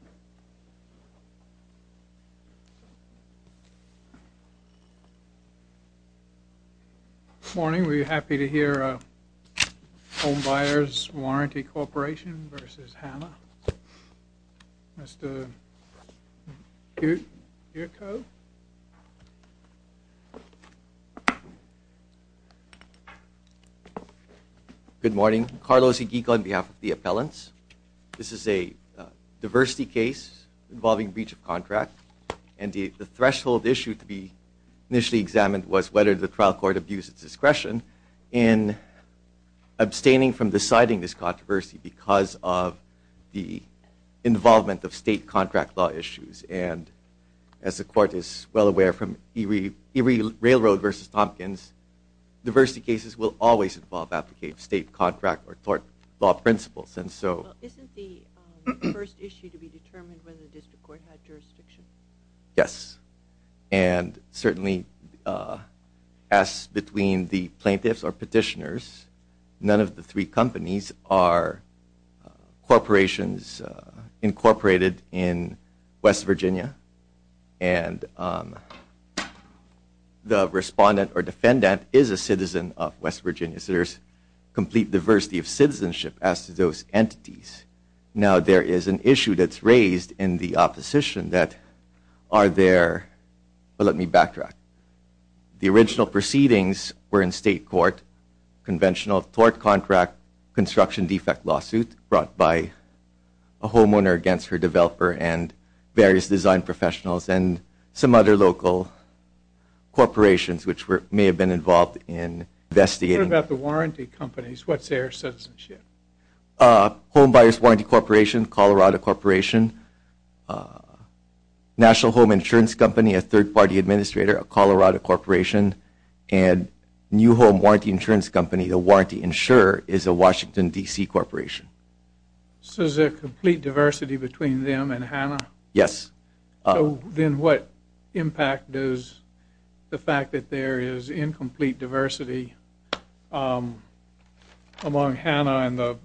Good morning, we are happy to hear Home Buyers Warranty Corp. v. Hanna, Mr. Yurko. Good morning, Carlos Igiga on behalf of the appellants. This is a diversity case involving breach of contract and the threshold issue to be initially examined was whether the trial court abused its discretion in abstaining from deciding this controversy because of the involvement of state contract law issues. And as the court is well aware from Erie Railroad v. Tompkins, diversity cases will always involve abdicating state contract or tort law principles and so... Isn't the first issue to be determined whether the district court had jurisdiction? Yes, and certainly as between the plaintiffs or petitioners, none of the three companies are corporations incorporated in West Virginia, and the respondent or defendant is a citizen of West Virginia. So there's complete diversity of citizenship as to those entities. Now there is an issue that's raised in the opposition that are there... Well, let me backtrack. The original proceedings were in state court, conventional tort contract construction defect lawsuit brought by a homeowner against her developer and various design professionals and some other local corporations which may have been involved in investigating... What about the warranty companies? What's their citizenship? Homebuyers Warranty Corporation, Colorado Corporation, National Home Insurance Company, a third-party administrator, a Colorado Corporation, and New Home Warranty Insurance Company, the warranty insurer is a Washington, D.C. corporation. So there's a complete diversity between them and Hanna? Yes. So then what impact does the fact that there is incomplete diversity among Hanna and the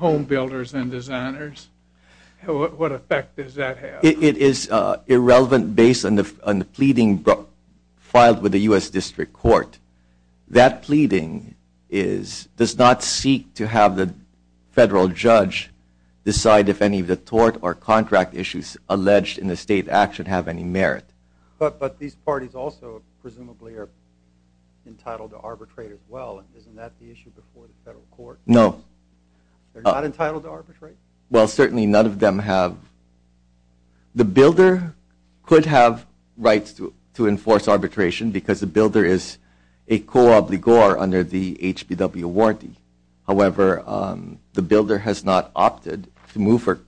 homebuilders and designers... What effect does that have? It is irrelevant based on the pleading filed with the U.S. District Court. That pleading does not seek to have the federal judge decide if any of the tort or contract issues alleged in the State Act should have any merit. But these parties also presumably are entitled to arbitrate as well. Isn't that the issue before the federal court? No. They're not entitled to arbitrate? Well, certainly none of them have... The builder could have rights to enforce arbitration because the builder is a co-obligor under the HPW warranty. However, the builder has not opted to move for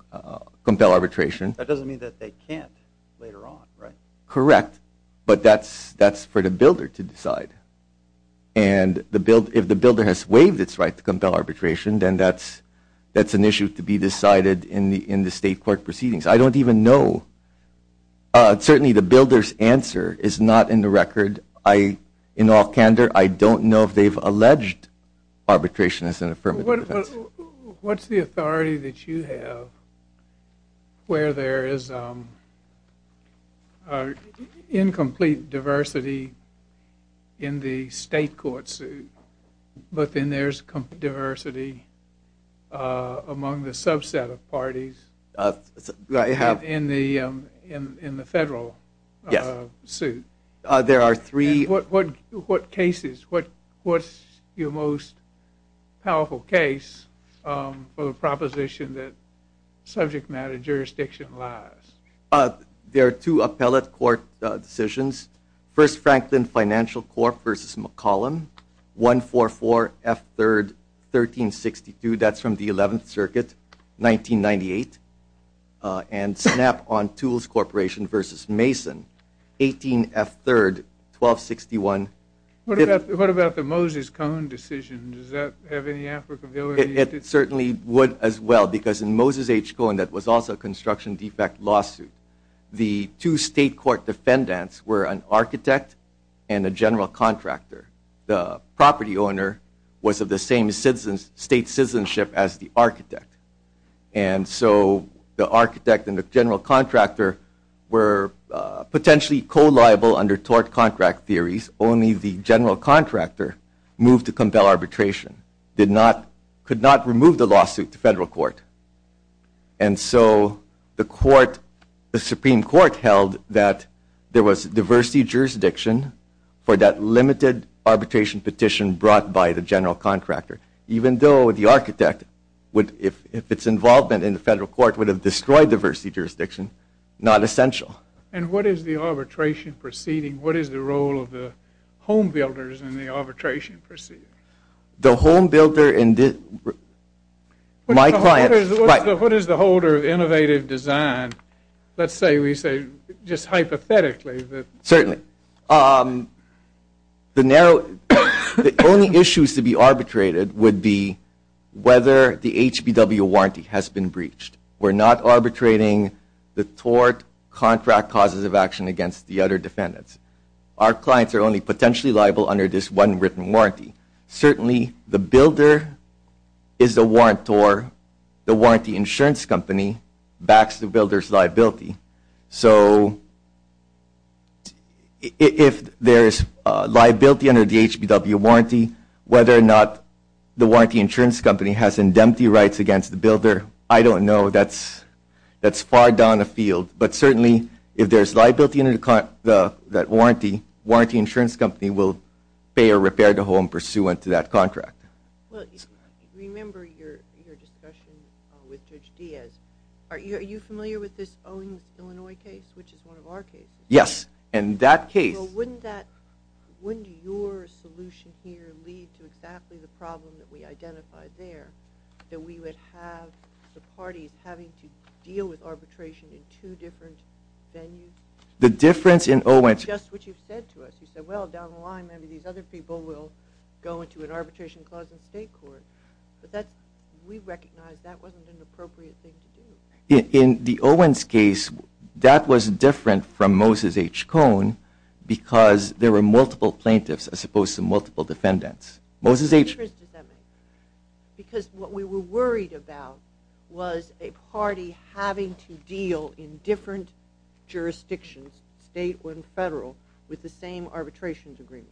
compelled arbitration. That doesn't mean that they can't later on, right? Correct. But that's for the builder to decide. And if the builder has waived its right to compel arbitration, then that's an issue to be decided in the state court proceedings. I don't even know. Certainly, the builder's answer is not in the record. In all candor, I don't know if they've alleged arbitration as an affirmative defense. What's the authority that you have where there is incomplete diversity in the state court suit, but then there's diversity among the subset of parties in the federal suit? There are three... What cases? What's your most powerful case for the proposition that subject matter jurisdiction lies? There are two appellate court decisions. First, Franklin Financial Corp. v. McCollum, 144 F. 3rd, 1362. That's from the 11th Circuit, 1998. And Snap-on Tools Corporation v. Mason, 18 F. 3rd, 1261. What about the Moses-Cohen decision? Does that have any applicability? It certainly would as well, because in Moses H. Cohen, that was also a construction defect lawsuit. The two state court defendants were an architect and a general contractor. The property owner was of the same state citizenship as the architect. And so the architect and the general contractor were potentially co-liable under tort contract theories. Only the general contractor moved to compel arbitration, could not remove the lawsuit to federal court. And so the Supreme Court held that there was diversity jurisdiction for that limited arbitration petition brought by the general contractor, even though the architect, if it's involvement in the federal court, would have destroyed diversity jurisdiction, not essential. And what is the arbitration proceeding? What is the role of the homebuilders in the arbitration proceeding? The homebuilder... My client... What is the holder of innovative design? Let's say we say just hypothetically that... Certainly. The only issues to be arbitrated would be whether the HBW warranty has been breached. We're not arbitrating the tort contract causes of action against the other defendants. Our clients are only potentially liable under this one written warranty. Certainly the builder is the warrantor. The warranty insurance company backs the builder's liability. So if there's liability under the HBW warranty, whether or not the warranty insurance company has indemnity rights against the builder, I don't know. That's far down the field. But certainly if there's liability under that warranty, warranty insurance company will pay a repair to home pursuant to that contract. Well, remember your discussion with Judge Diaz. Are you familiar with this Owens, Illinois case, which is one of our cases? Yes, and that case... Well, wouldn't that... Wouldn't your solution here lead to exactly the problem that we identified there, that we would have the parties having to deal with arbitration in two different venues? The difference in Owens... Just what you've said to us. You said, well, down the line, maybe these other people will go into an arbitration clause in state court. But that's... We recognize that wasn't an appropriate thing to do. In the Owens case, that was different from Moses H. Cohn because there were multiple plaintiffs as opposed to multiple defendants. Moses H... What difference does that make? Because what we were worried about was a party having to deal in different jurisdictions, state or federal, with the same arbitration agreement.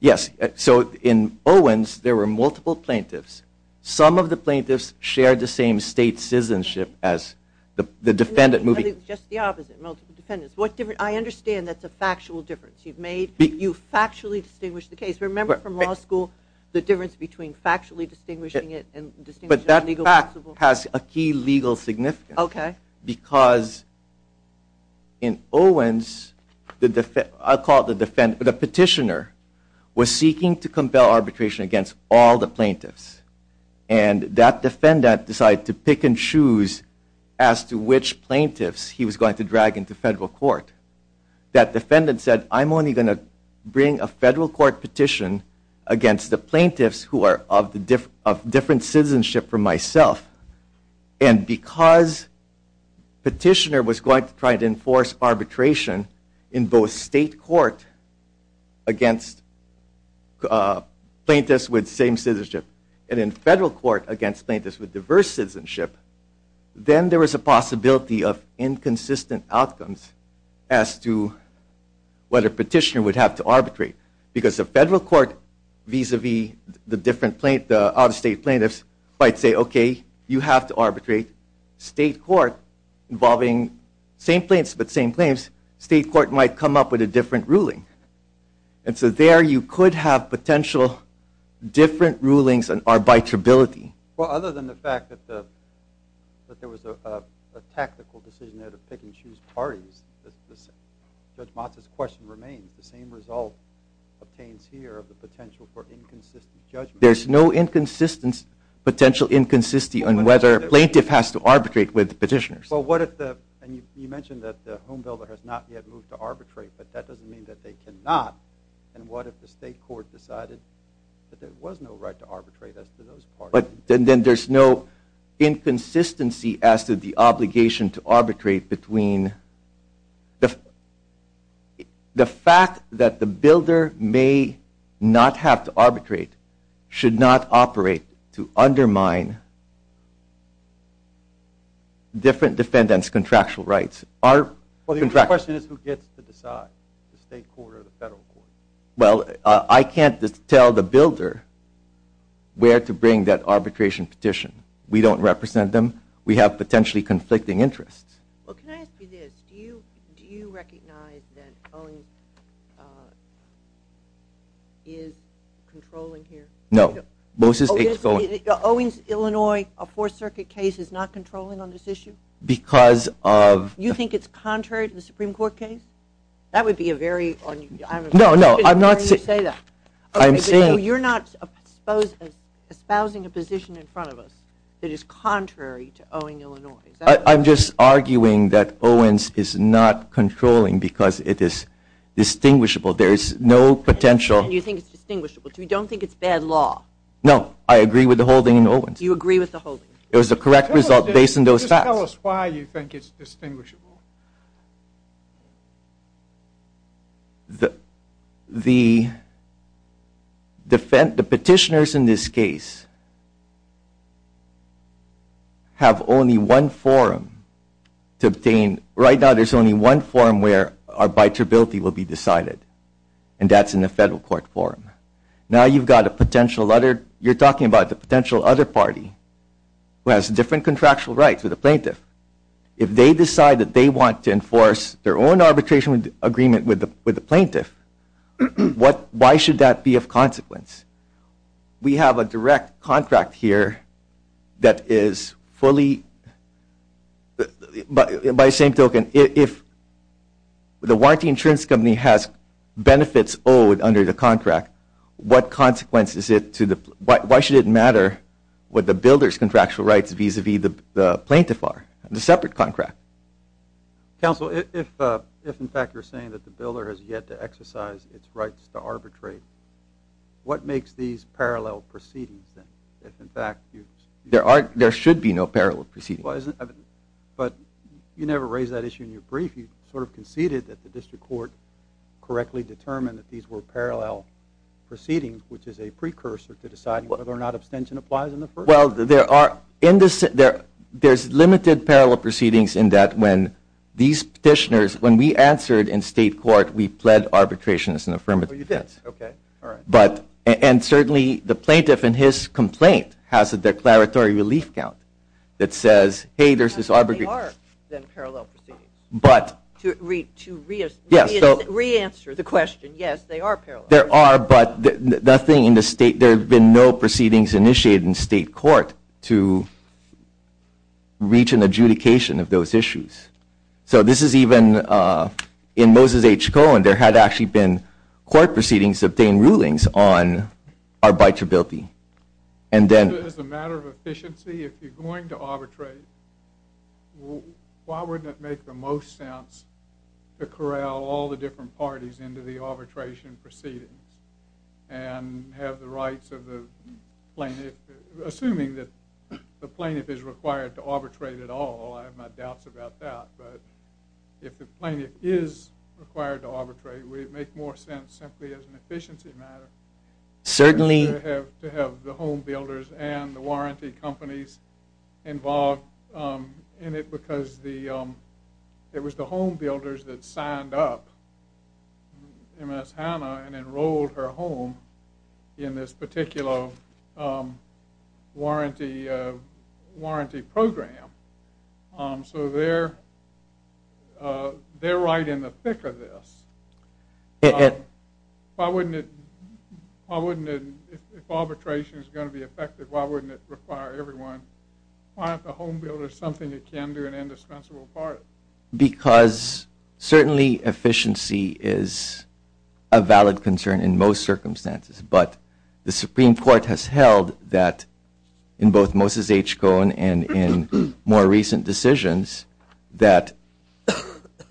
Yes, so in Owens, there were multiple plaintiffs. Some of the plaintiffs shared the same state citizenship as the defendant moving... Just the opposite, multiple defendants. What difference... I understand that's a factual difference. You've made... You've factually distinguished the case. Remember from law school, the difference between factually distinguishing it and distinguishing... But that fact has a key legal significance. Okay. Because in Owens, I'll call it the petitioner, was seeking to compel arbitration against all the plaintiffs. And that defendant decided to pick and choose as to which plaintiffs he was going to drag into federal court. That defendant said, I'm only going to bring a federal court petition against the plaintiffs who are of different citizenship from myself. And because petitioner was going to try to enforce arbitration in both state court against plaintiffs with same citizenship, and in federal court against plaintiffs with diverse citizenship, then there was a possibility of inconsistent outcomes as to whether petitioner would have to arbitrate. Because the federal court vis-a-vis the different plaintiffs, the out-of-state plaintiffs, might say, okay, you have to arbitrate. State court involving same plaintiffs with same plaintiffs, state court might come up with a different ruling. And so there you could have potential different rulings and arbitrability. Well, other than the fact that there was a tactical decision there to pick and choose parties, Judge Matz's question remains. The same result obtains here of the potential for inconsistent judgment. There's no inconsistence, potential inconsistency on whether a plaintiff has to arbitrate with petitioners. Well, what if the, and you mentioned that the home builder has not yet moved to arbitrate, but that doesn't mean that they cannot. And what if the state court decided that there was no right to arbitrate as to those parties? But then there's no inconsistency as to the obligation to arbitrate between the fact that the builder may not have to arbitrate, should not operate to undermine different defendants' contractual rights. Our contractual rights. Well, the question is who gets to decide, the state court or the federal court. Well, I can't tell the builder where to bring that arbitration petition. We don't represent them. We have potentially conflicting interests. Well, can I ask you this? Do you recognize that Owings is controlling here? No. Moses H. Owings. Owings, Illinois, a Fourth Circuit case is not controlling on this issue? Because of... You think it's contrary to the Supreme Court case? That would be a very... No, no, I'm not saying... Why do you say that? I'm saying... You're not espousing a position in front of us that is contrary to Owings, Illinois. I'm just arguing that Owings is not controlling because it is distinguishable. There is no potential... And you think it's distinguishable. So you don't think it's bad law? No, I agree with the holding in Owings. You agree with the holding? It was the correct result based on those facts. Just tell us why you think it's distinguishable. The petitioners in this case have only one forum to obtain... Right now, there's only one forum where arbitrability will be decided. And that's in the federal court forum. Now you've got a potential other... You're talking about the potential other party who has different contractual rights with the plaintiff. If they decide that they want to enforce their own arbitration agreement with the plaintiff, why should that be of consequence? We have a direct contract here that is fully... By the same token, if the warranty insurance company has benefits owed under the contract, what consequence is it to the... The separate contract. Counsel, if in fact you're saying that the builder has yet to exercise its rights to arbitrate, what makes these parallel proceedings then? If in fact you... There are... There should be no parallel proceedings. But you never raised that issue in your brief. You sort of conceded that the district court correctly determined that these were parallel proceedings, which is a precursor to deciding whether or not abstention applies in the first... Well, there are... There's limited parallel proceedings in that when these petitioners... When we answered in state court, we pled arbitration as an affirmative. Oh, you did? Okay. All right. But... And certainly the plaintiff in his complaint has a declaratory relief count that says, hey, there's this arbitration... How many are then parallel proceedings? But... To re-answer the question, yes, they are parallel. There are, but nothing in the state... There have been no proceedings initiated in state court to reach an adjudication of those issues. So this is even... In Moses H. Cohen, there had actually been court proceedings to obtain rulings on arbitrability. And then... As a matter of efficiency, if you're going to arbitrate, why wouldn't it make the most sense to corral all the different parties into the arbitration proceedings and have the rights of the plaintiff... Assuming that the plaintiff is required to arbitrate at all. I have my doubts about that. But if the plaintiff is required to arbitrate, would it make more sense simply as an efficiency matter... Certainly... ...to have the home builders and the warranty companies involved in it because it was the home builders that signed up Ms. Hanna and enrolled her home in this particular warranty program. So they're right in the thick of this. If arbitration is going to be effective, why wouldn't it require everyone... Why aren't the home builders something that can do an indispensable part? Because certainly efficiency is a valid concern in most circumstances. But the Supreme Court has held that in both Moses H. Cohen and in more recent decisions that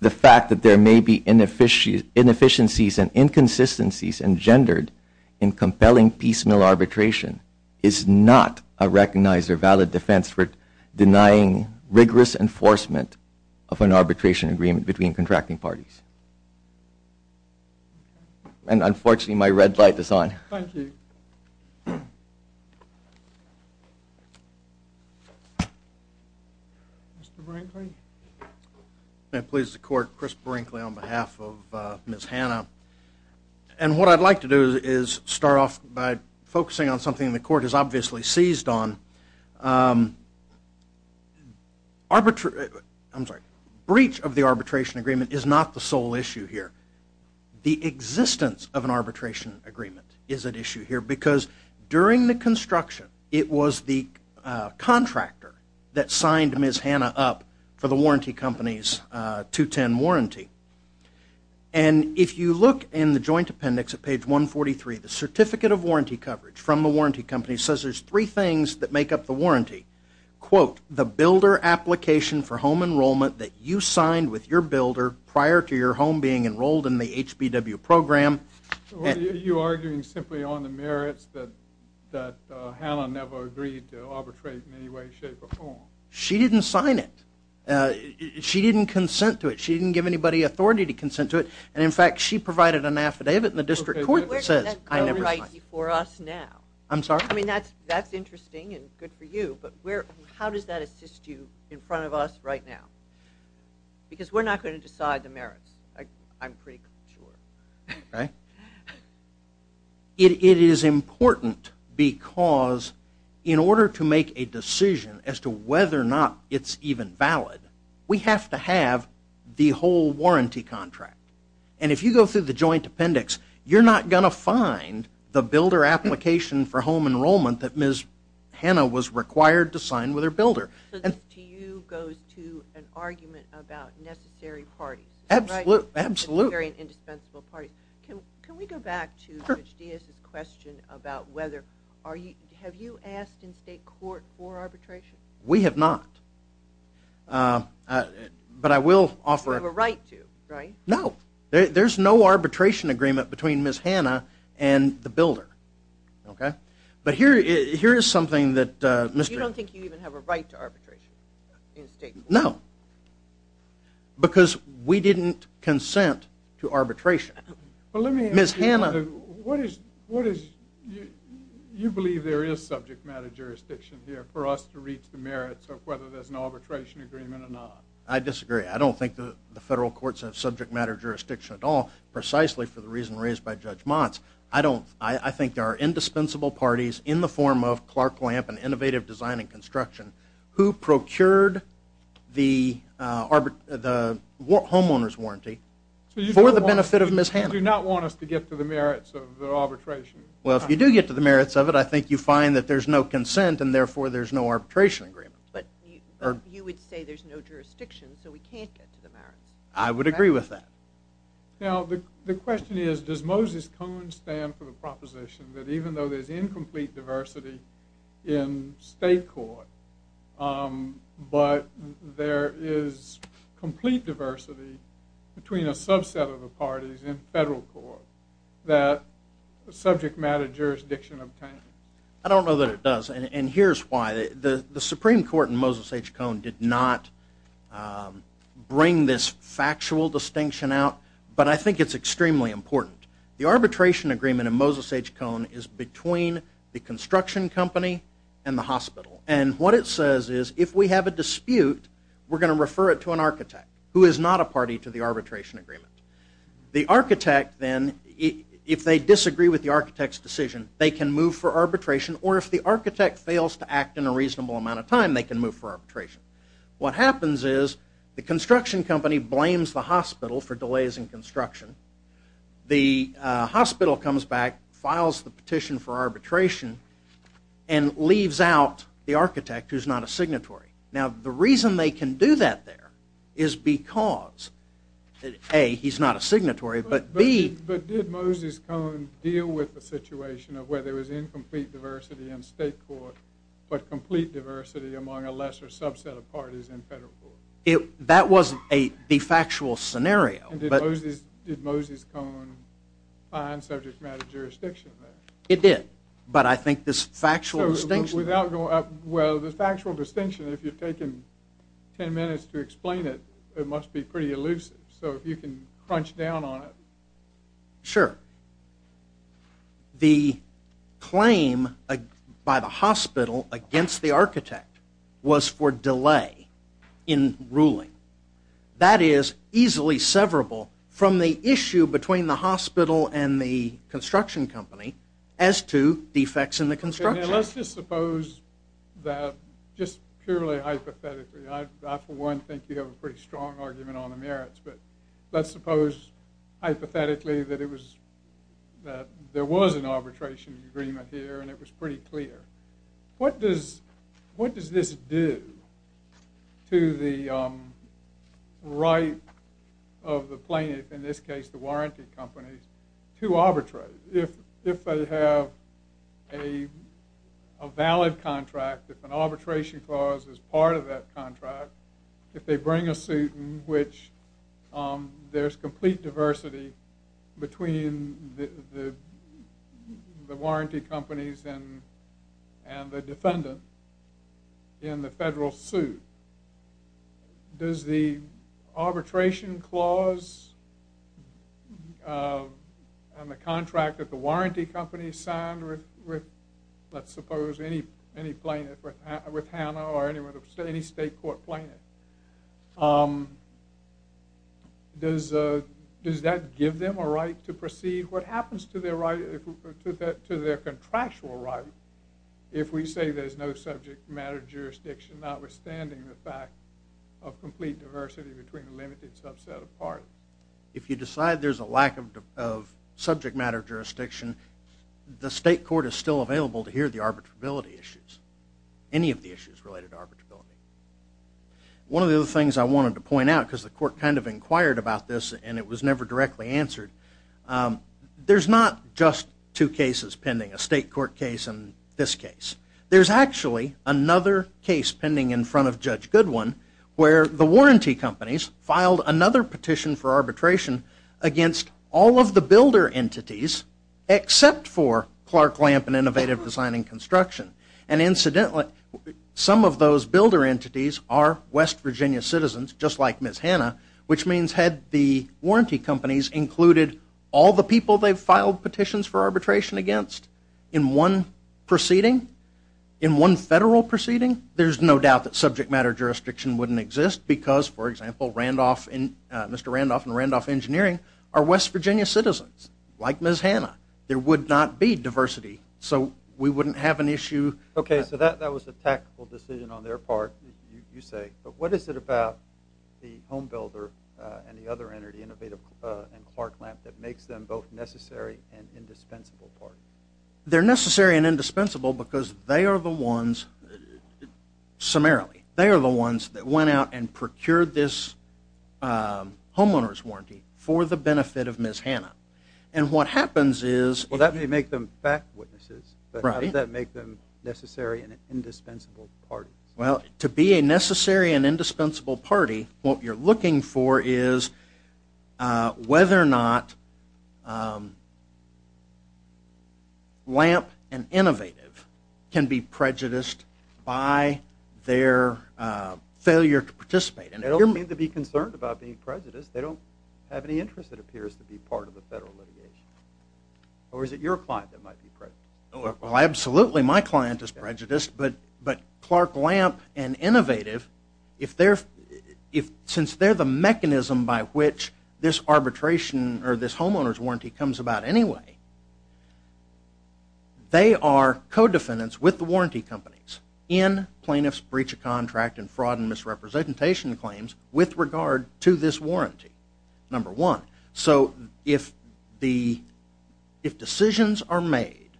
the fact that there may be inefficiencies and inconsistencies engendered in compelling piecemeal arbitration is not a recognized or valid defense for denying rigorous enforcement of an arbitration agreement between contracting parties. And unfortunately, my red light is on. Thank you. Mr. Brinkley? May it please the Court, Chris Brinkley on behalf of Ms. Hanna. And what I'd like to do is start off by focusing on something the Court has obviously seized on. Arbitrary... I'm sorry. Breach of the arbitration agreement is not the sole issue here. The existence of an arbitration agreement is at issue here because during the construction, it was the contractor that signed Ms. Hanna up for the warranty company's 210 warranty. And if you look in the Joint Appendix at page 143, the Certificate of Warranty Coverage from the warranty company says there's three things that make up the warranty. Quote, the builder application for home enrollment that you signed with your builder prior to your home being enrolled in the HBW program. Are you arguing simply on the merits that Hanna never agreed to arbitrate in any way, shape, or form? She didn't sign it. She didn't consent to it. She didn't give anybody authority to consent to it. And in fact, she provided an affidavit in the District Court that says, I never signed. I'm sorry? I mean, that's interesting and good for you. But how does that assist you in front of us right now? Because we're not going to decide the merits, I'm pretty sure. Right? It is important because in order to make a decision as to whether or not it's even valid, we have to have the whole warranty contract. And if you go through the Joint Appendix, you're not going to find the builder application for home enrollment that Ms. Hanna was required to sign with her builder. So this to you goes to an argument about necessary parties. Absolutely. Very indispensable parties. Can we go back to Judge Diaz's question about whether, have you asked in state court for arbitration? We have not. But I will offer... You have a right to, right? No. There's no arbitration agreement between Ms. Hanna and the builder. Okay? But here is something that... You don't think you even have a right to arbitration in state court? No. Because we didn't consent to arbitration. Well, let me ask you... Ms. Hanna... What is, you believe there is subject matter jurisdiction here for us to reach the merits of whether there's an arbitration agreement or not? I disagree. I don't think the federal courts have subject matter jurisdiction at all, precisely for the reason raised by Judge Motz. I don't, I think there are indispensable parties in the form of Clark Lamp and Innovative Design and Construction who procured the homeowner's warranty for the benefit of Ms. Hanna. So you do not want us to get to the merits of the arbitration? Well, if you do get to the merits of it, I think you find that there's no consent and therefore there's no arbitration agreement. But you would say there's no jurisdiction, so we can't get to the merits. I would agree with that. Now, the question is, does Moses Cohen stand for the proposition that even though there's incomplete diversity in state court, but there is complete diversity between a subset of the parties in federal court that subject matter jurisdiction obtains? I don't know that it does, and here's why. The Supreme Court in Moses H. Cohen did not bring this factual distinction out, but I think it's extremely important. The arbitration agreement in Moses H. Cohen is between the construction company and the hospital. And what it says is, if we have a dispute, we're going to refer it to an architect who is not a party to the arbitration agreement. The architect then, if they disagree with the architect's decision, they can move for arbitration, or if the architect fails to act in a reasonable amount of time, they can move for arbitration. What happens is, the construction company blames the hospital for delays in construction. The hospital comes back, files the petition for arbitration, and leaves out the architect who's not a signatory. Now, the reason they can do that there is because A, he's not a signatory, but B... But did Moses H. Cohen deal with the situation of where there was incomplete diversity in state court, but complete diversity among a lesser subset of parties in federal court? That was the factual scenario. And did Moses H. Cohen find subject matter jurisdiction there? It did. But I think this factual distinction... Without going... Well, the factual distinction, if you've taken ten minutes to explain it, it must be pretty elusive. So, if you can crunch down on it. Sure. The claim by the hospital against the architect was for delay in ruling. That is easily severable from the issue between the hospital and the construction company as to defects in the construction. Now, let's just suppose that, just purely hypothetically, I, for one, think you have a pretty strong argument on the merits, but let's suppose, hypothetically, that it was... that there was an arbitration agreement here, and it was pretty clear. What does this do to the right of the plaintiff, in this case, the warranty company, to arbitrate? If they have a valid contract, if an arbitration clause is part of that contract, if they bring a suit in which there's complete diversity between the warranty companies and the defendant in the federal suit, does the arbitration clause and the contract that the warranty company signed with, let's suppose, any plaintiff, with Hanna or any state court plaintiff, does that give them a right to proceed? What happens to their contractual right if we say there's no subject matter jurisdiction, notwithstanding the fact of complete diversity between the limited subset of parties? If you decide there's a lack of subject matter jurisdiction, the state court is still available to hear the arbitrability issues, any of the issues related to arbitrability. One of the other things I wanted to point out, because the court kind of inquired about this and it was never directly answered, there's not just two cases pending, a state court case and this case. There's actually another case pending in front of Judge Goodwin where the warranty companies filed another petition for arbitration against all of the builder entities except for Clark Lamp and Innovative Design and Construction. And incidentally, some of those builder entities are West Virginia citizens, just like Ms. Hanna, which means had the warranty companies included all the people they've filed petitions for arbitration against in one proceeding, in one federal proceeding, there's no doubt that subject matter jurisdiction wouldn't exist because, for example, Mr. Randolph and Randolph Engineering are West Virginia citizens, like Ms. Hanna. There would not be diversity. So we wouldn't have an issue. Okay, so that was a tactical decision on their part, you say, but what is it about the home builder and the other entity, Innovative and Clark Lamp, that makes them both necessary and indispensable parts? They're necessary and indispensable because they are the ones, summarily, they are the ones that went out and procured this homeowner's warranty for the benefit of Ms. Hanna. And what happens is- It doesn't make them fact witnesses, but how does that make them necessary and an indispensable party? Well, to be a necessary and indispensable party, what you're looking for is whether or not Lamp and Innovative can be prejudiced by their failure to participate. And they don't need to be concerned about being prejudiced. They don't have any interest that appears to be part of the federal litigation. Or is it your client that might be prejudiced? Well, absolutely my client is prejudiced, but Clark Lamp and Innovative, if they're- since they're the mechanism by which this arbitration or this homeowner's warranty comes about anyway, they are co-defendants with the warranty companies in plaintiff's breach of contract and fraud and misrepresentation claims with regard to this warranty, number one. So if the- if decisions are made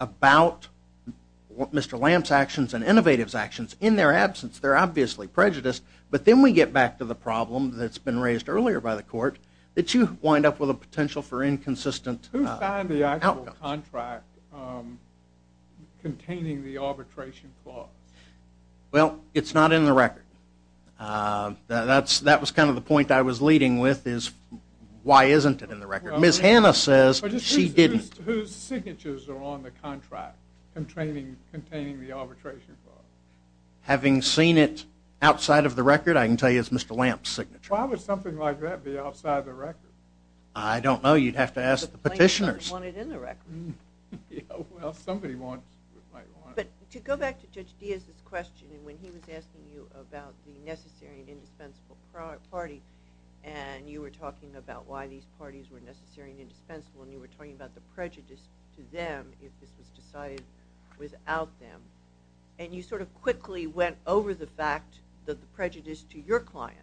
about Mr. Lamp's actions and Innovative's actions in their absence, they're obviously prejudiced. But then we get back to the problem that's been raised earlier by the court, that you wind up with a potential for inconsistent outcomes. Who signed the actual contract containing the arbitration clause? Well, it's not in the record. That's- that was kind of the point I was leading with is why isn't it in the record? Ms. Hanna says she didn't. Whose signatures are on the contract containing the arbitration clause? Having seen it outside of the record, I can tell you it's Mr. Lamp's signature. Why would something like that be outside the record? I don't know, you'd have to ask the petitioners. But the plaintiff doesn't want it in the record. Yeah, well, somebody might want it. But to go back to Judge Diaz's question and when he was asking you about the necessary and indispensable party and you were talking about why these parties were necessary and indispensable and you were talking about the prejudice to them if this was decided without them. And you sort of quickly went over the fact that the prejudice to your client.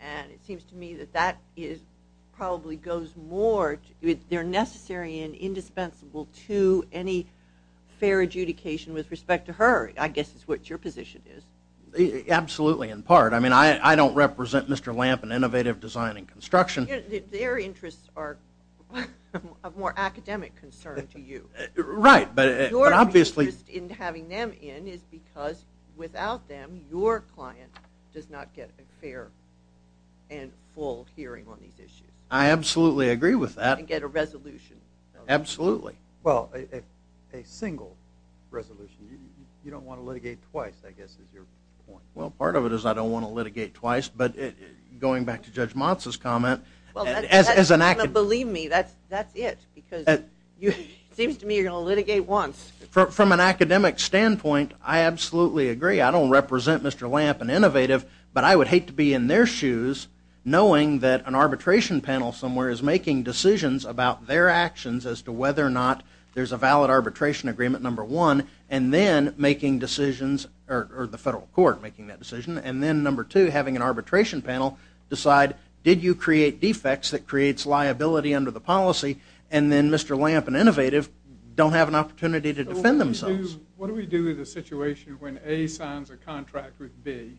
And it seems to me that that is- probably goes more- they're necessary and indispensable to any fair adjudication with respect to her, I guess is what your position is. Absolutely, in part. I mean, I don't represent Mr. Lamp in innovative design and construction. Their interests are of more academic concern to you. Right, but obviously- Your interest in having them in is because without them, your client does not get a fair and full hearing on these issues. I absolutely agree with that. And get a resolution. Absolutely. Well, a single resolution. You don't want to litigate twice, I guess is your point. Well, part of it is I don't want to litigate twice, but going back to Judge Motz's comment- Well, that's not going to believe me. That's it. Because it seems to me you're going to litigate once. From an academic standpoint, I absolutely agree. I don't represent Mr. Lamp in innovative, but I would hate to be in their shoes knowing that an arbitration panel somewhere is making decisions about their actions as to whether or not there's a valid arbitration agreement number one and then making decisions or the federal court making that decision and then number two, having an arbitration panel decide did you create defects that creates liability under the policy and then Mr. Lamp and innovative don't have an opportunity to defend themselves. What do we do in a situation when A signs a contract with B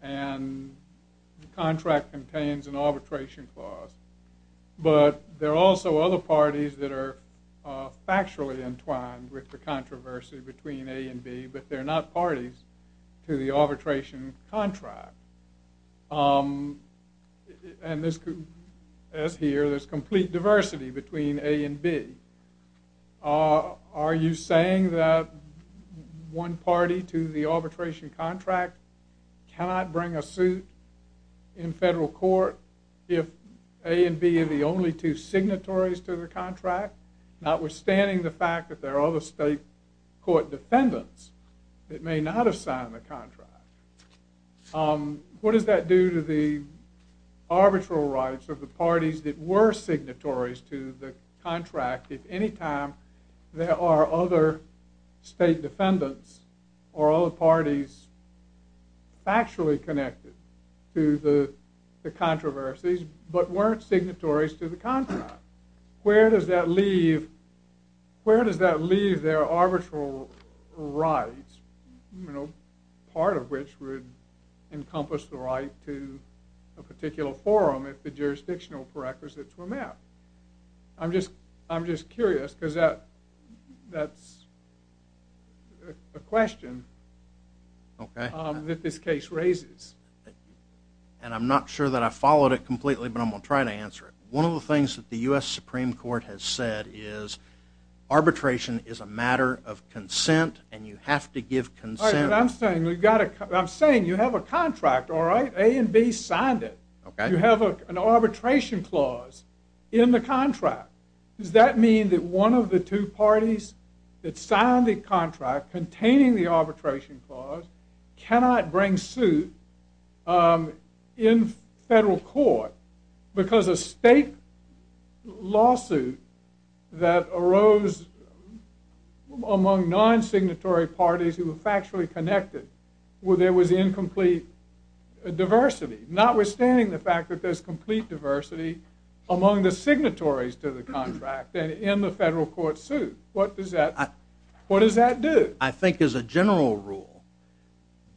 and the contract contains an arbitration clause but there are also other parties that are factually entwined with the controversy between A and B but they're not parties to the arbitration contract? As here, there's complete diversity between A and B. Are you saying that one party to the arbitration contract cannot bring a suit in federal court if A and B are the only two signatories to the contract notwithstanding the fact that there are other state court defendants that may not have signed the contract? What does that do to the arbitral rights of the parties that were signatories to the contract if anytime there are other state defendants or other parties factually connected to the controversies but weren't signatories to the contract? Where does that leave where does that leave their arbitral rights? Part of which would encompass the right to a particular forum if the jurisdictional prerequisites were met. I'm just curious because that's a question that this case raises. And I'm not sure that I followed it completely but I'm going to try to answer it. One of the things that the U.S. Supreme Court has said is arbitration is a matter of consent and you have to give consent Alright, but I'm saying you have a contract, alright? A and B signed it. You have an arbitration clause in the contract. Does that mean that one of the two parties that signed the contract containing the arbitration clause cannot bring suit in federal court because a state lawsuit that arose among non signatory parties who were factually connected where there was incomplete diversity notwithstanding the fact that there's complete diversity among the signatories to the contract and in the federal court suit. What does that what does that do? I think as a general rule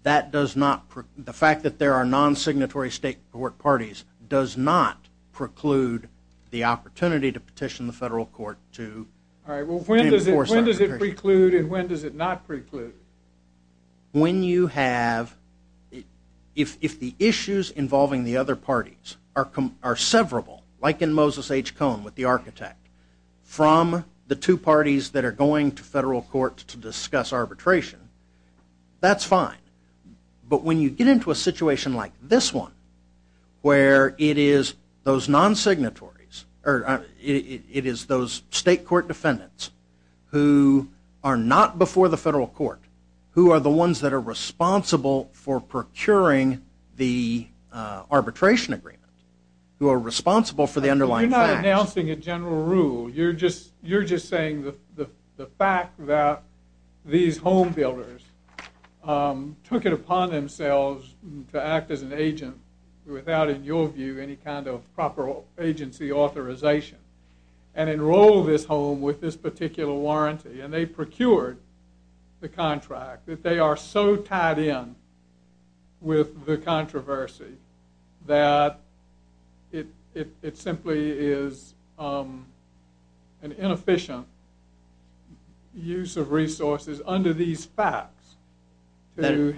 that does not the fact that there are non-signatory state court parties does not preclude the opportunity to petition the federal court to Alright, well when does it preclude and when does it not preclude? When you have if the issues involving the other parties are severable like in Moses H. Cone with the architect from the two parties that are going to federal court to discuss arbitration, that's fine. But when you get into a situation like this one where it is those non-signatories it is those state court defendants who are not before the federal court who are the ones that are responsible for procuring the arbitration agreement who are responsible for the underlying facts You're not announcing a general rule You're just saying the fact that these home builders took it upon themselves to act as an agent without in your view any kind of proper agency authorization and enrolled this home with this particular warranty and they procured the contract that they are so tied in with the controversy that it simply is an inefficient use of resources under these facts to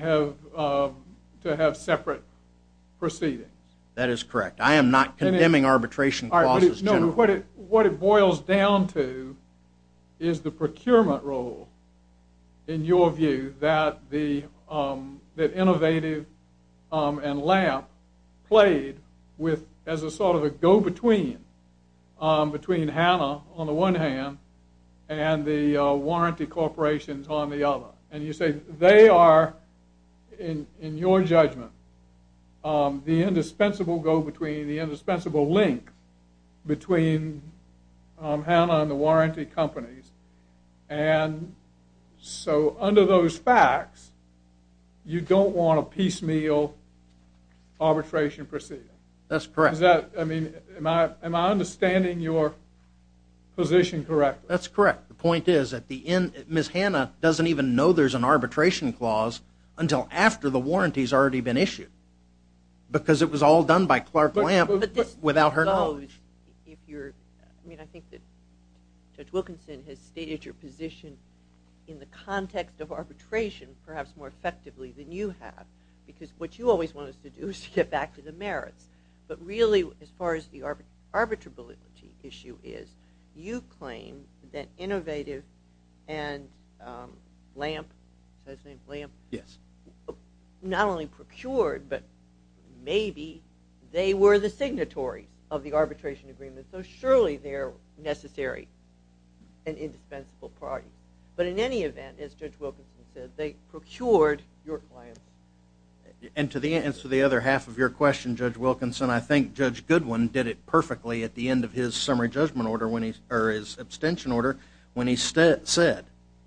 have separate proceedings That is correct. I am not condemning arbitration clauses What it boils down to is the procurement role in your view that the innovative and LAMP played as a sort of a go-between between Hanna on the one hand and the warranty corporations on the other and you say they are in your judgment the indispensable go-between the indispensable link between Hanna and the warranty companies and so under those facts you don't want a piecemeal arbitration procedure That's correct Am I understanding your position correctly? That's correct. The point is Ms. Hanna doesn't even know there is an arbitration clause until after the warranty has already been issued because it was all done by Clark LAMP without her knowledge I think that Judge Wilkinson has stated your position in the context of arbitration perhaps more effectively than you have because what you always want us to do is get back to the merits but really as far as the arbitrability issue is you claim that innovative and LAMP not only procured but maybe they were the signatories of the arbitration agreement so surely they are necessary and indispensable party but in any event as Judge Wilkinson said they procured your claim And to the other half of your question Judge Wilkinson I think Judge Goodwin did it perfectly at the end of his summary judgment order or his abstention order when he said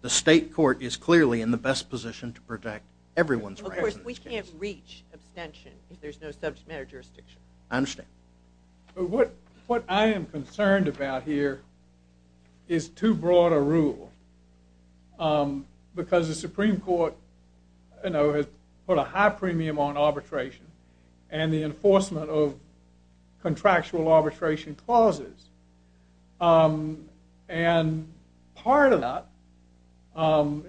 the state court is clearly in the best position to protect everyone's rights We can't reach abstention if there is no subject matter jurisdiction What I am concerned about here is too broad a rule because the Supreme Court you know put a high premium on arbitration and the enforcement of contractual arbitration clauses and part of that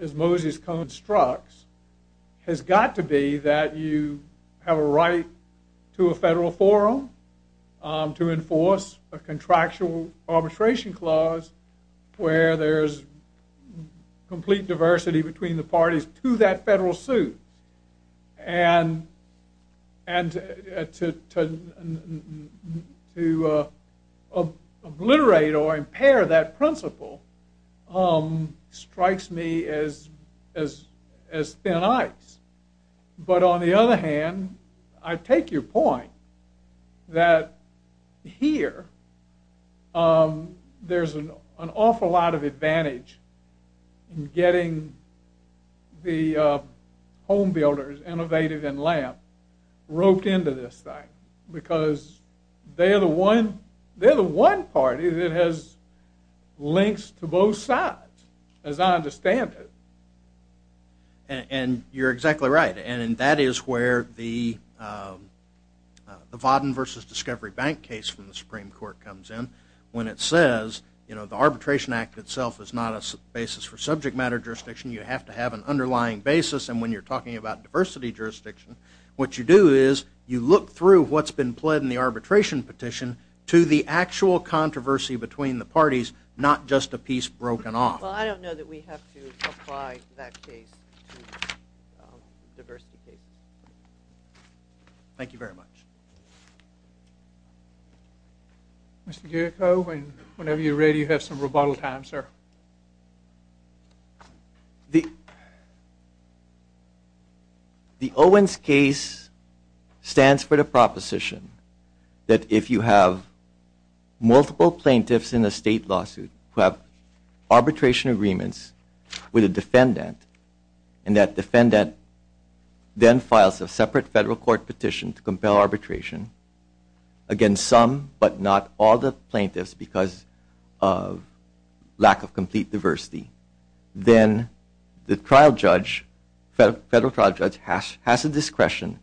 as Moses Cone struck has got to be that you have a right to a federal forum to enforce a contractual arbitration clause where there is complete diversity between the parties to that federal suit and and to obliterate or impair that principle strikes me as thin ice but on the other hand I take your point that here there is an awful lot of advantage in getting the home builders, Innovative and Lamp roped into this thing because they are the one party that has links to both sides as I understand it and you are exactly right and that is where the the Vodden versus Discovery Bank case from the Supreme Court comes in when it says the Arbitration Act itself is not a basis for subject matter jurisdiction you have to have an underlying basis and when you are talking about diversity jurisdiction what you do is you look through what's been pled in the arbitration petition to the actual controversy between the parties not just a piece broken off. Well I don't know that we have to apply that case to diversity cases. Thank you very much. Mr. Gerico whenever you are ready you have some rebuttal time sir. The Owens case stands for the proposition that if you have multiple plaintiffs in a state lawsuit who have arbitration agreements with a defendant and that defendant then files a separate federal court petition to compel arbitration against some but not all the plaintiffs because of lack of complete diversity then the trial judge has the discretion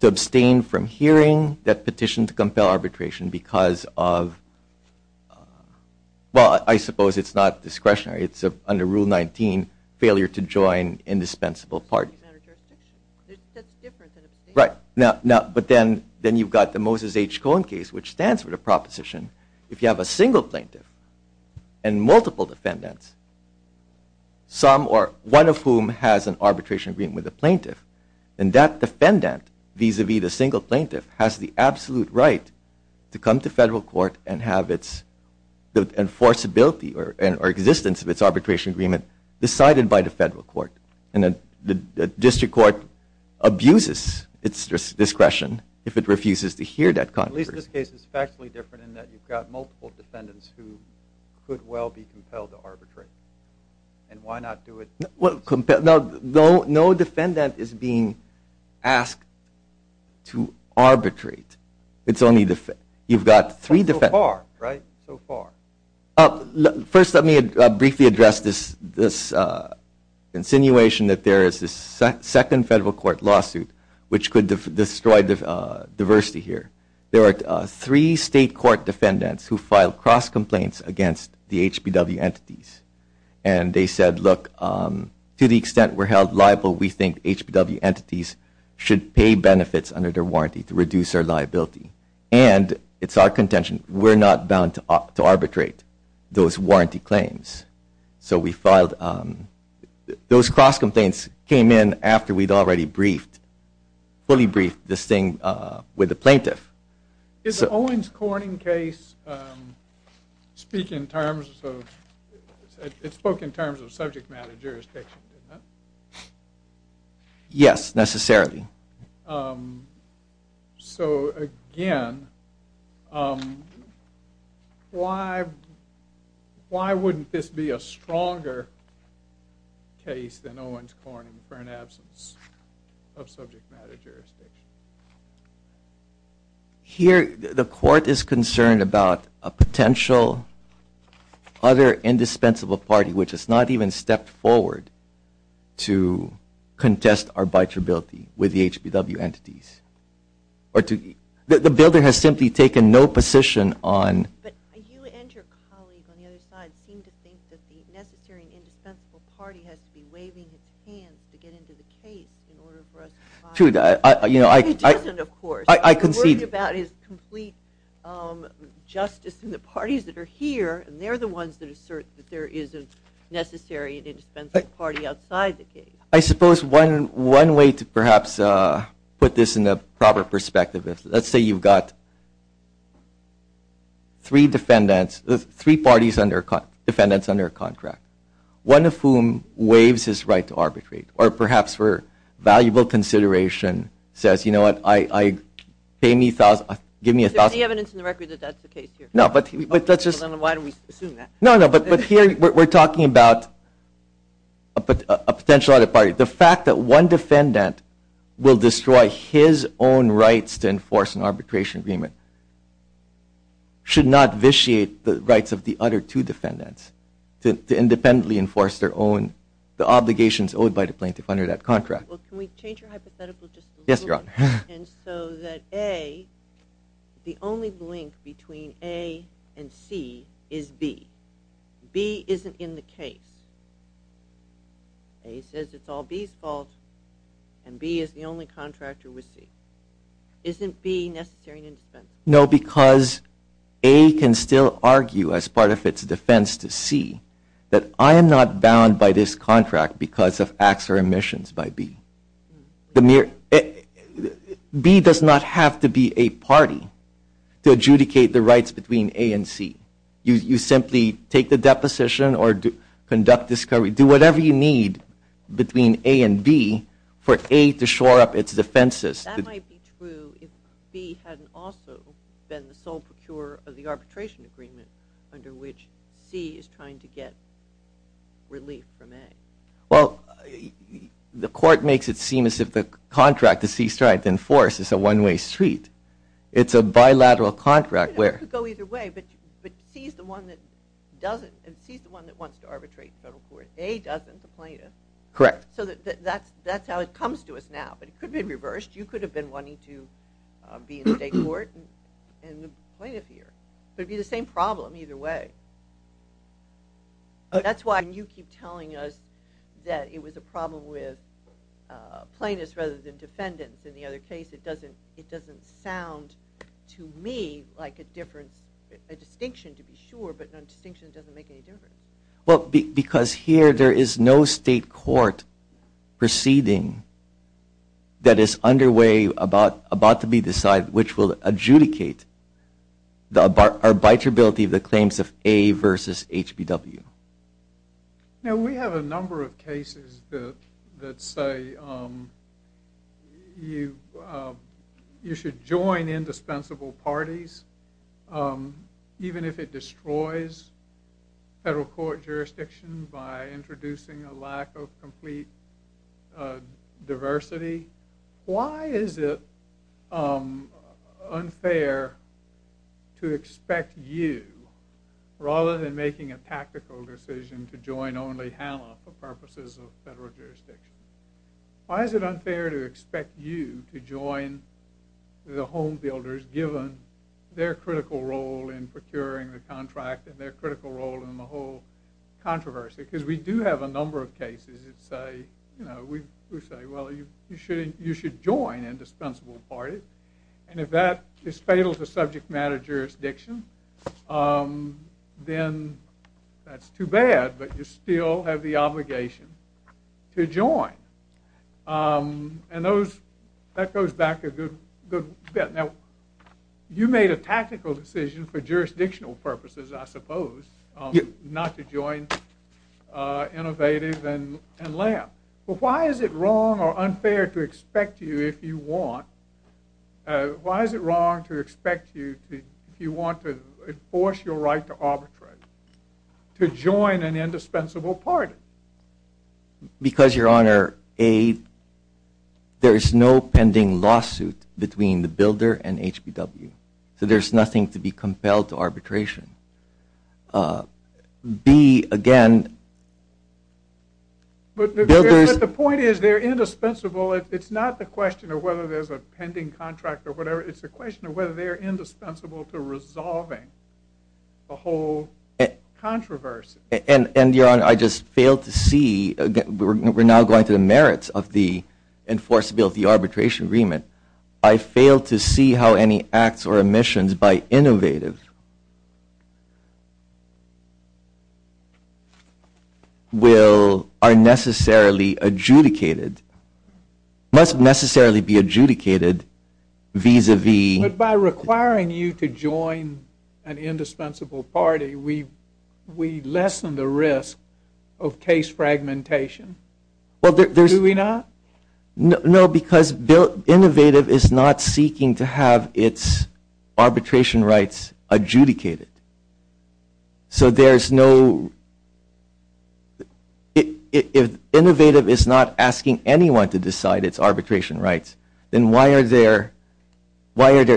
to abstain from hearing that petition to compel arbitration because of well I suppose it's not discretionary it's under Rule 19 failure to join indispensable parties. Right but then you've got the Moses H. Cohen case which stands for the proposition if you have a single plaintiff and multiple defendants some or one of whom has an arbitration agreement with the plaintiff and that defendant vis-a-vis the single plaintiff has the absolute right to come to federal court and have its enforceability or existence of its arbitration agreement decided by the district court abuses its discretion if it refuses to hear that contribution. At least this case is factually different in that you've got multiple defendants who could well be compelled to arbitrate and why not do it? No defendant is being asked to arbitrate you've got three defendants So far right? So far First let me briefly address this insinuation that there is this second federal court lawsuit which could destroy diversity here. There are three state court defendants who filed cross complaints against the HBW entities and they said look to the extent we're held liable we think HBW entities should pay benefits under their warranty to reduce our liability and it's our contention we're not bound to arbitrate those warranty claims So we filed those cross complaints came in after we'd already briefed fully briefed this thing with the plaintiff Is Owens Corning case speak in terms of it spoke in terms of subject matter jurisdiction? Yes necessarily So again why why wouldn't this be a stronger case than Owens Corning for an absence of subject matter jurisdiction? Here the court is concerned about a potential other indispensable party which has not even stepped forward to contest arbitrability with the HBW entities or to the builder has simply taken no position But you and your colleague on the other side seem to think that the necessary and indispensable party has to be waving its hands to get into the case in order for us to file It doesn't of course I concede We're worried about his complete justice in the parties that are here and they're the ones that assert that there is a necessary and indispensable party outside the case I suppose one way to perhaps put this in a proper perspective let's say you've got three defendants three parties defendants under a contract one of whom waives his right to arbitrate or perhaps for valuable consideration says you know what give me a thousand Is there any evidence in the record that that's the case here? No But here we're talking about a potential other party. The fact that one defendant will destroy his own rights to enforce an arbitration agreement should not vitiate the rights of the other two defendants to independently enforce their own obligations owed by the plaintiff under that contract Can we change your hypothetical just a little bit? Yes your honor And so that A the only link between A and C is B B isn't in the case A says it's all B's fault and B is the only contractor with C Isn't B necessary to defend? No because A can still argue as part of its defense to C that I am not bound by this contract because of acts or omissions by B B does not have to be a party to adjudicate the rights between A and C You simply take the deposition or conduct discovery do whatever you need between A and B for A to shore up its defenses That might be true if B hadn't also been the sole procurer of the arbitration agreement under which C is trying to get relief from A Well the court makes it seem as if the contract that C is trying to enforce is a one way street It's a bilateral contract It could go either way but C is the one that doesn't C is the one that wants to arbitrate the federal court A doesn't, the plaintiff Correct So that's how it comes to us now but it could be reversed You could have been wanting to be in the state court and the plaintiff here It would be the same problem either way That's why you keep telling us that it was a problem with plaintiffs rather than defendants In the other case it doesn't sound to me like a difference a distinction to be sure but a distinction doesn't make any difference Well because here there is no state court proceeding that is underway about to be decided which will adjudicate the arbitrability of the claims of A versus HBW Now we have a number of cases that say you should join indispensable parties even if it destroys federal court jurisdiction by introducing a lack of complete diversity Why is it unfair to expect you rather than making a tactical decision to join only Hanna for purposes of federal jurisdiction Why is it unfair to expect you to join the home builders given their critical role in procuring the contract and their critical role in the whole controversy because we do have a number of cases that say well you should join indispensable parties and if that is fatal to subject matter jurisdiction then that's too bad but you still have the obligation to join and that goes back a good bit You made a tactical decision for jurisdictional purposes I suppose not to join Innovative and LAM Why is it wrong or unfair to expect you if you want Why is it wrong to expect you if you want to enforce your right to arbitrate to join an indispensable party Because your honor there is no pending lawsuit between the builder and HBW so there's nothing to be compelled to arbitration B again But the point is they're indispensable it's not the question of whether there's a pending contract or whatever it's a question of whether they're indispensable to resolving the whole controversy I just failed to see we're now going to the merits of the enforceability arbitration agreement I failed to see how any acts or omissions by Innovative will are necessarily adjudicated must necessarily be adjudicated vis-a-vis But by requiring you to join an indispensable party we lessen the risk of case fragmentation Do we not? No because Innovative is not seeking to have its arbitration rights adjudicated So there's no If Innovative is not asking anyone to decide its arbitration rights then why are there why are they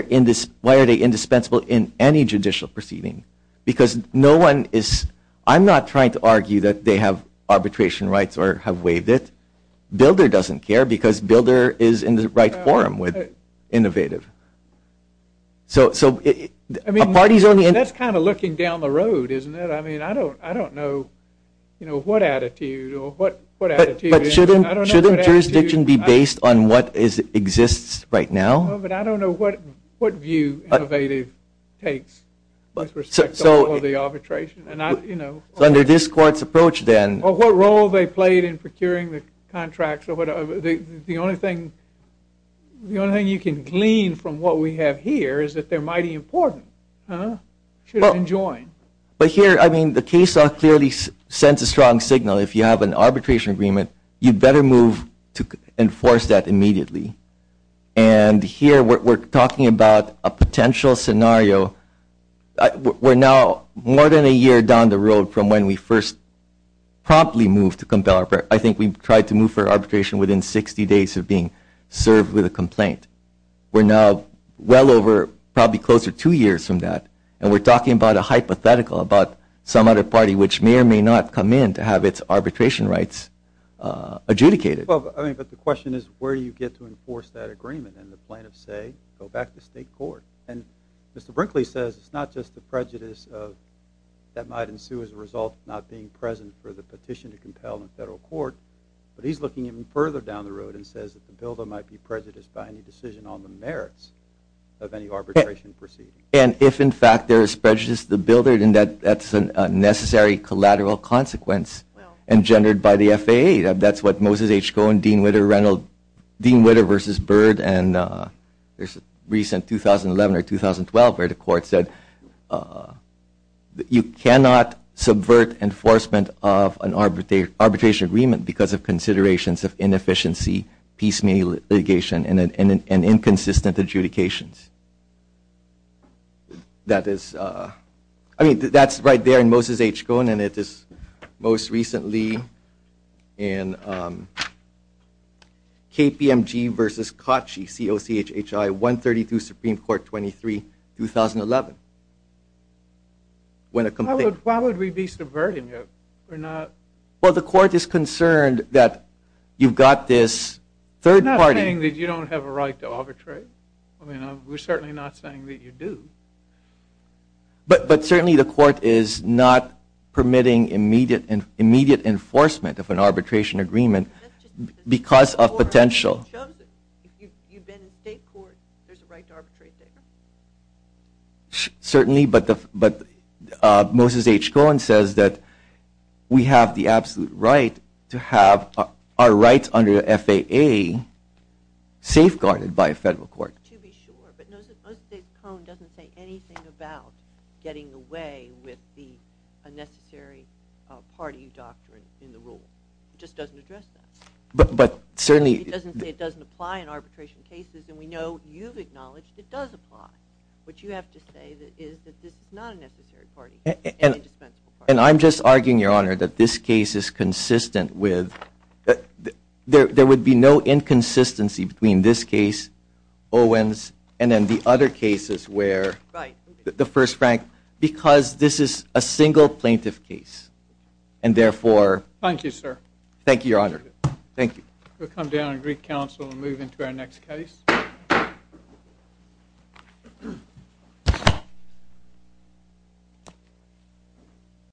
indispensable in any judicial proceeding because no one I'm not trying to argue that they have arbitration rights or have waived it. Builder doesn't care because Builder is in the right forum with Innovative That's kind of looking down the road isn't it? I mean I don't know what attitude or what attitude Shouldn't jurisdiction be based on what exists right now? I don't know what view Innovative takes with respect to all of the arbitration So under this court's approach then, or what role they played in procuring the contracts or whatever the only thing the only thing you can glean from what we have here is that they're mighty important Should have been joined But here I mean the case law clearly sends a strong signal if you have an arbitration agreement you'd better move to enforce that immediately and here we're talking about a potential scenario We're now more than a year down the road from when we first promptly moved I think we tried to move for arbitration within 60 days of being served with a complaint We're now well over probably close to two years from that and we're talking about a hypothetical about some other party which may or may not come in to have its arbitration rights adjudicated But the question is where do you get to enforce that agreement and the plaintiffs say go back to state court and Mr. Brinkley says it's not just the prejudice that might ensue as a result of not being present for the petition to compel in federal court but he's looking even further down the road and says that the builder might be prejudiced by any decision on the merits of any arbitration proceeding And if in fact there is prejudice to the builder then that's a necessary collateral consequence engendered by the FAA That's what Moses H. Cohen, Dean Witter, Dean Witter vs. Bird and there's a recent 2011 or 2012 where the court said that you cannot subvert enforcement of an arbitration agreement because of considerations of inefficiency, piecemeal litigation, and inconsistent adjudications That is I mean that's right there in Moses H. Cohen and it is most recently in KPMG vs. COCHI 132 Supreme Court 23 2011 Why would we be subverting it? Well the court is concerned that you've got this I'm not saying that you don't have a right to arbitrate I mean we're certainly not saying that you do But certainly the court is not permitting immediate enforcement of an Because of potential If you've been in state court there's a right to arbitrate there Certainly but Moses H. Cohen says that we have the absolute right to have our rights under the FAA safeguarded by a federal court But Moses H. Cohen doesn't say anything about getting away with the unnecessary party doctrine in the rule It just doesn't address that It doesn't say it doesn't apply in arbitration cases and we know you've acknowledged it does apply What you have to say is that this is not a necessary party And I'm just arguing your honor that this case is consistent with There would be no inconsistency between this case Owens and then the other cases where the first Frank because this is a single plaintiff case And therefore Thank you your honor We'll come down to Greek Council and move into our next case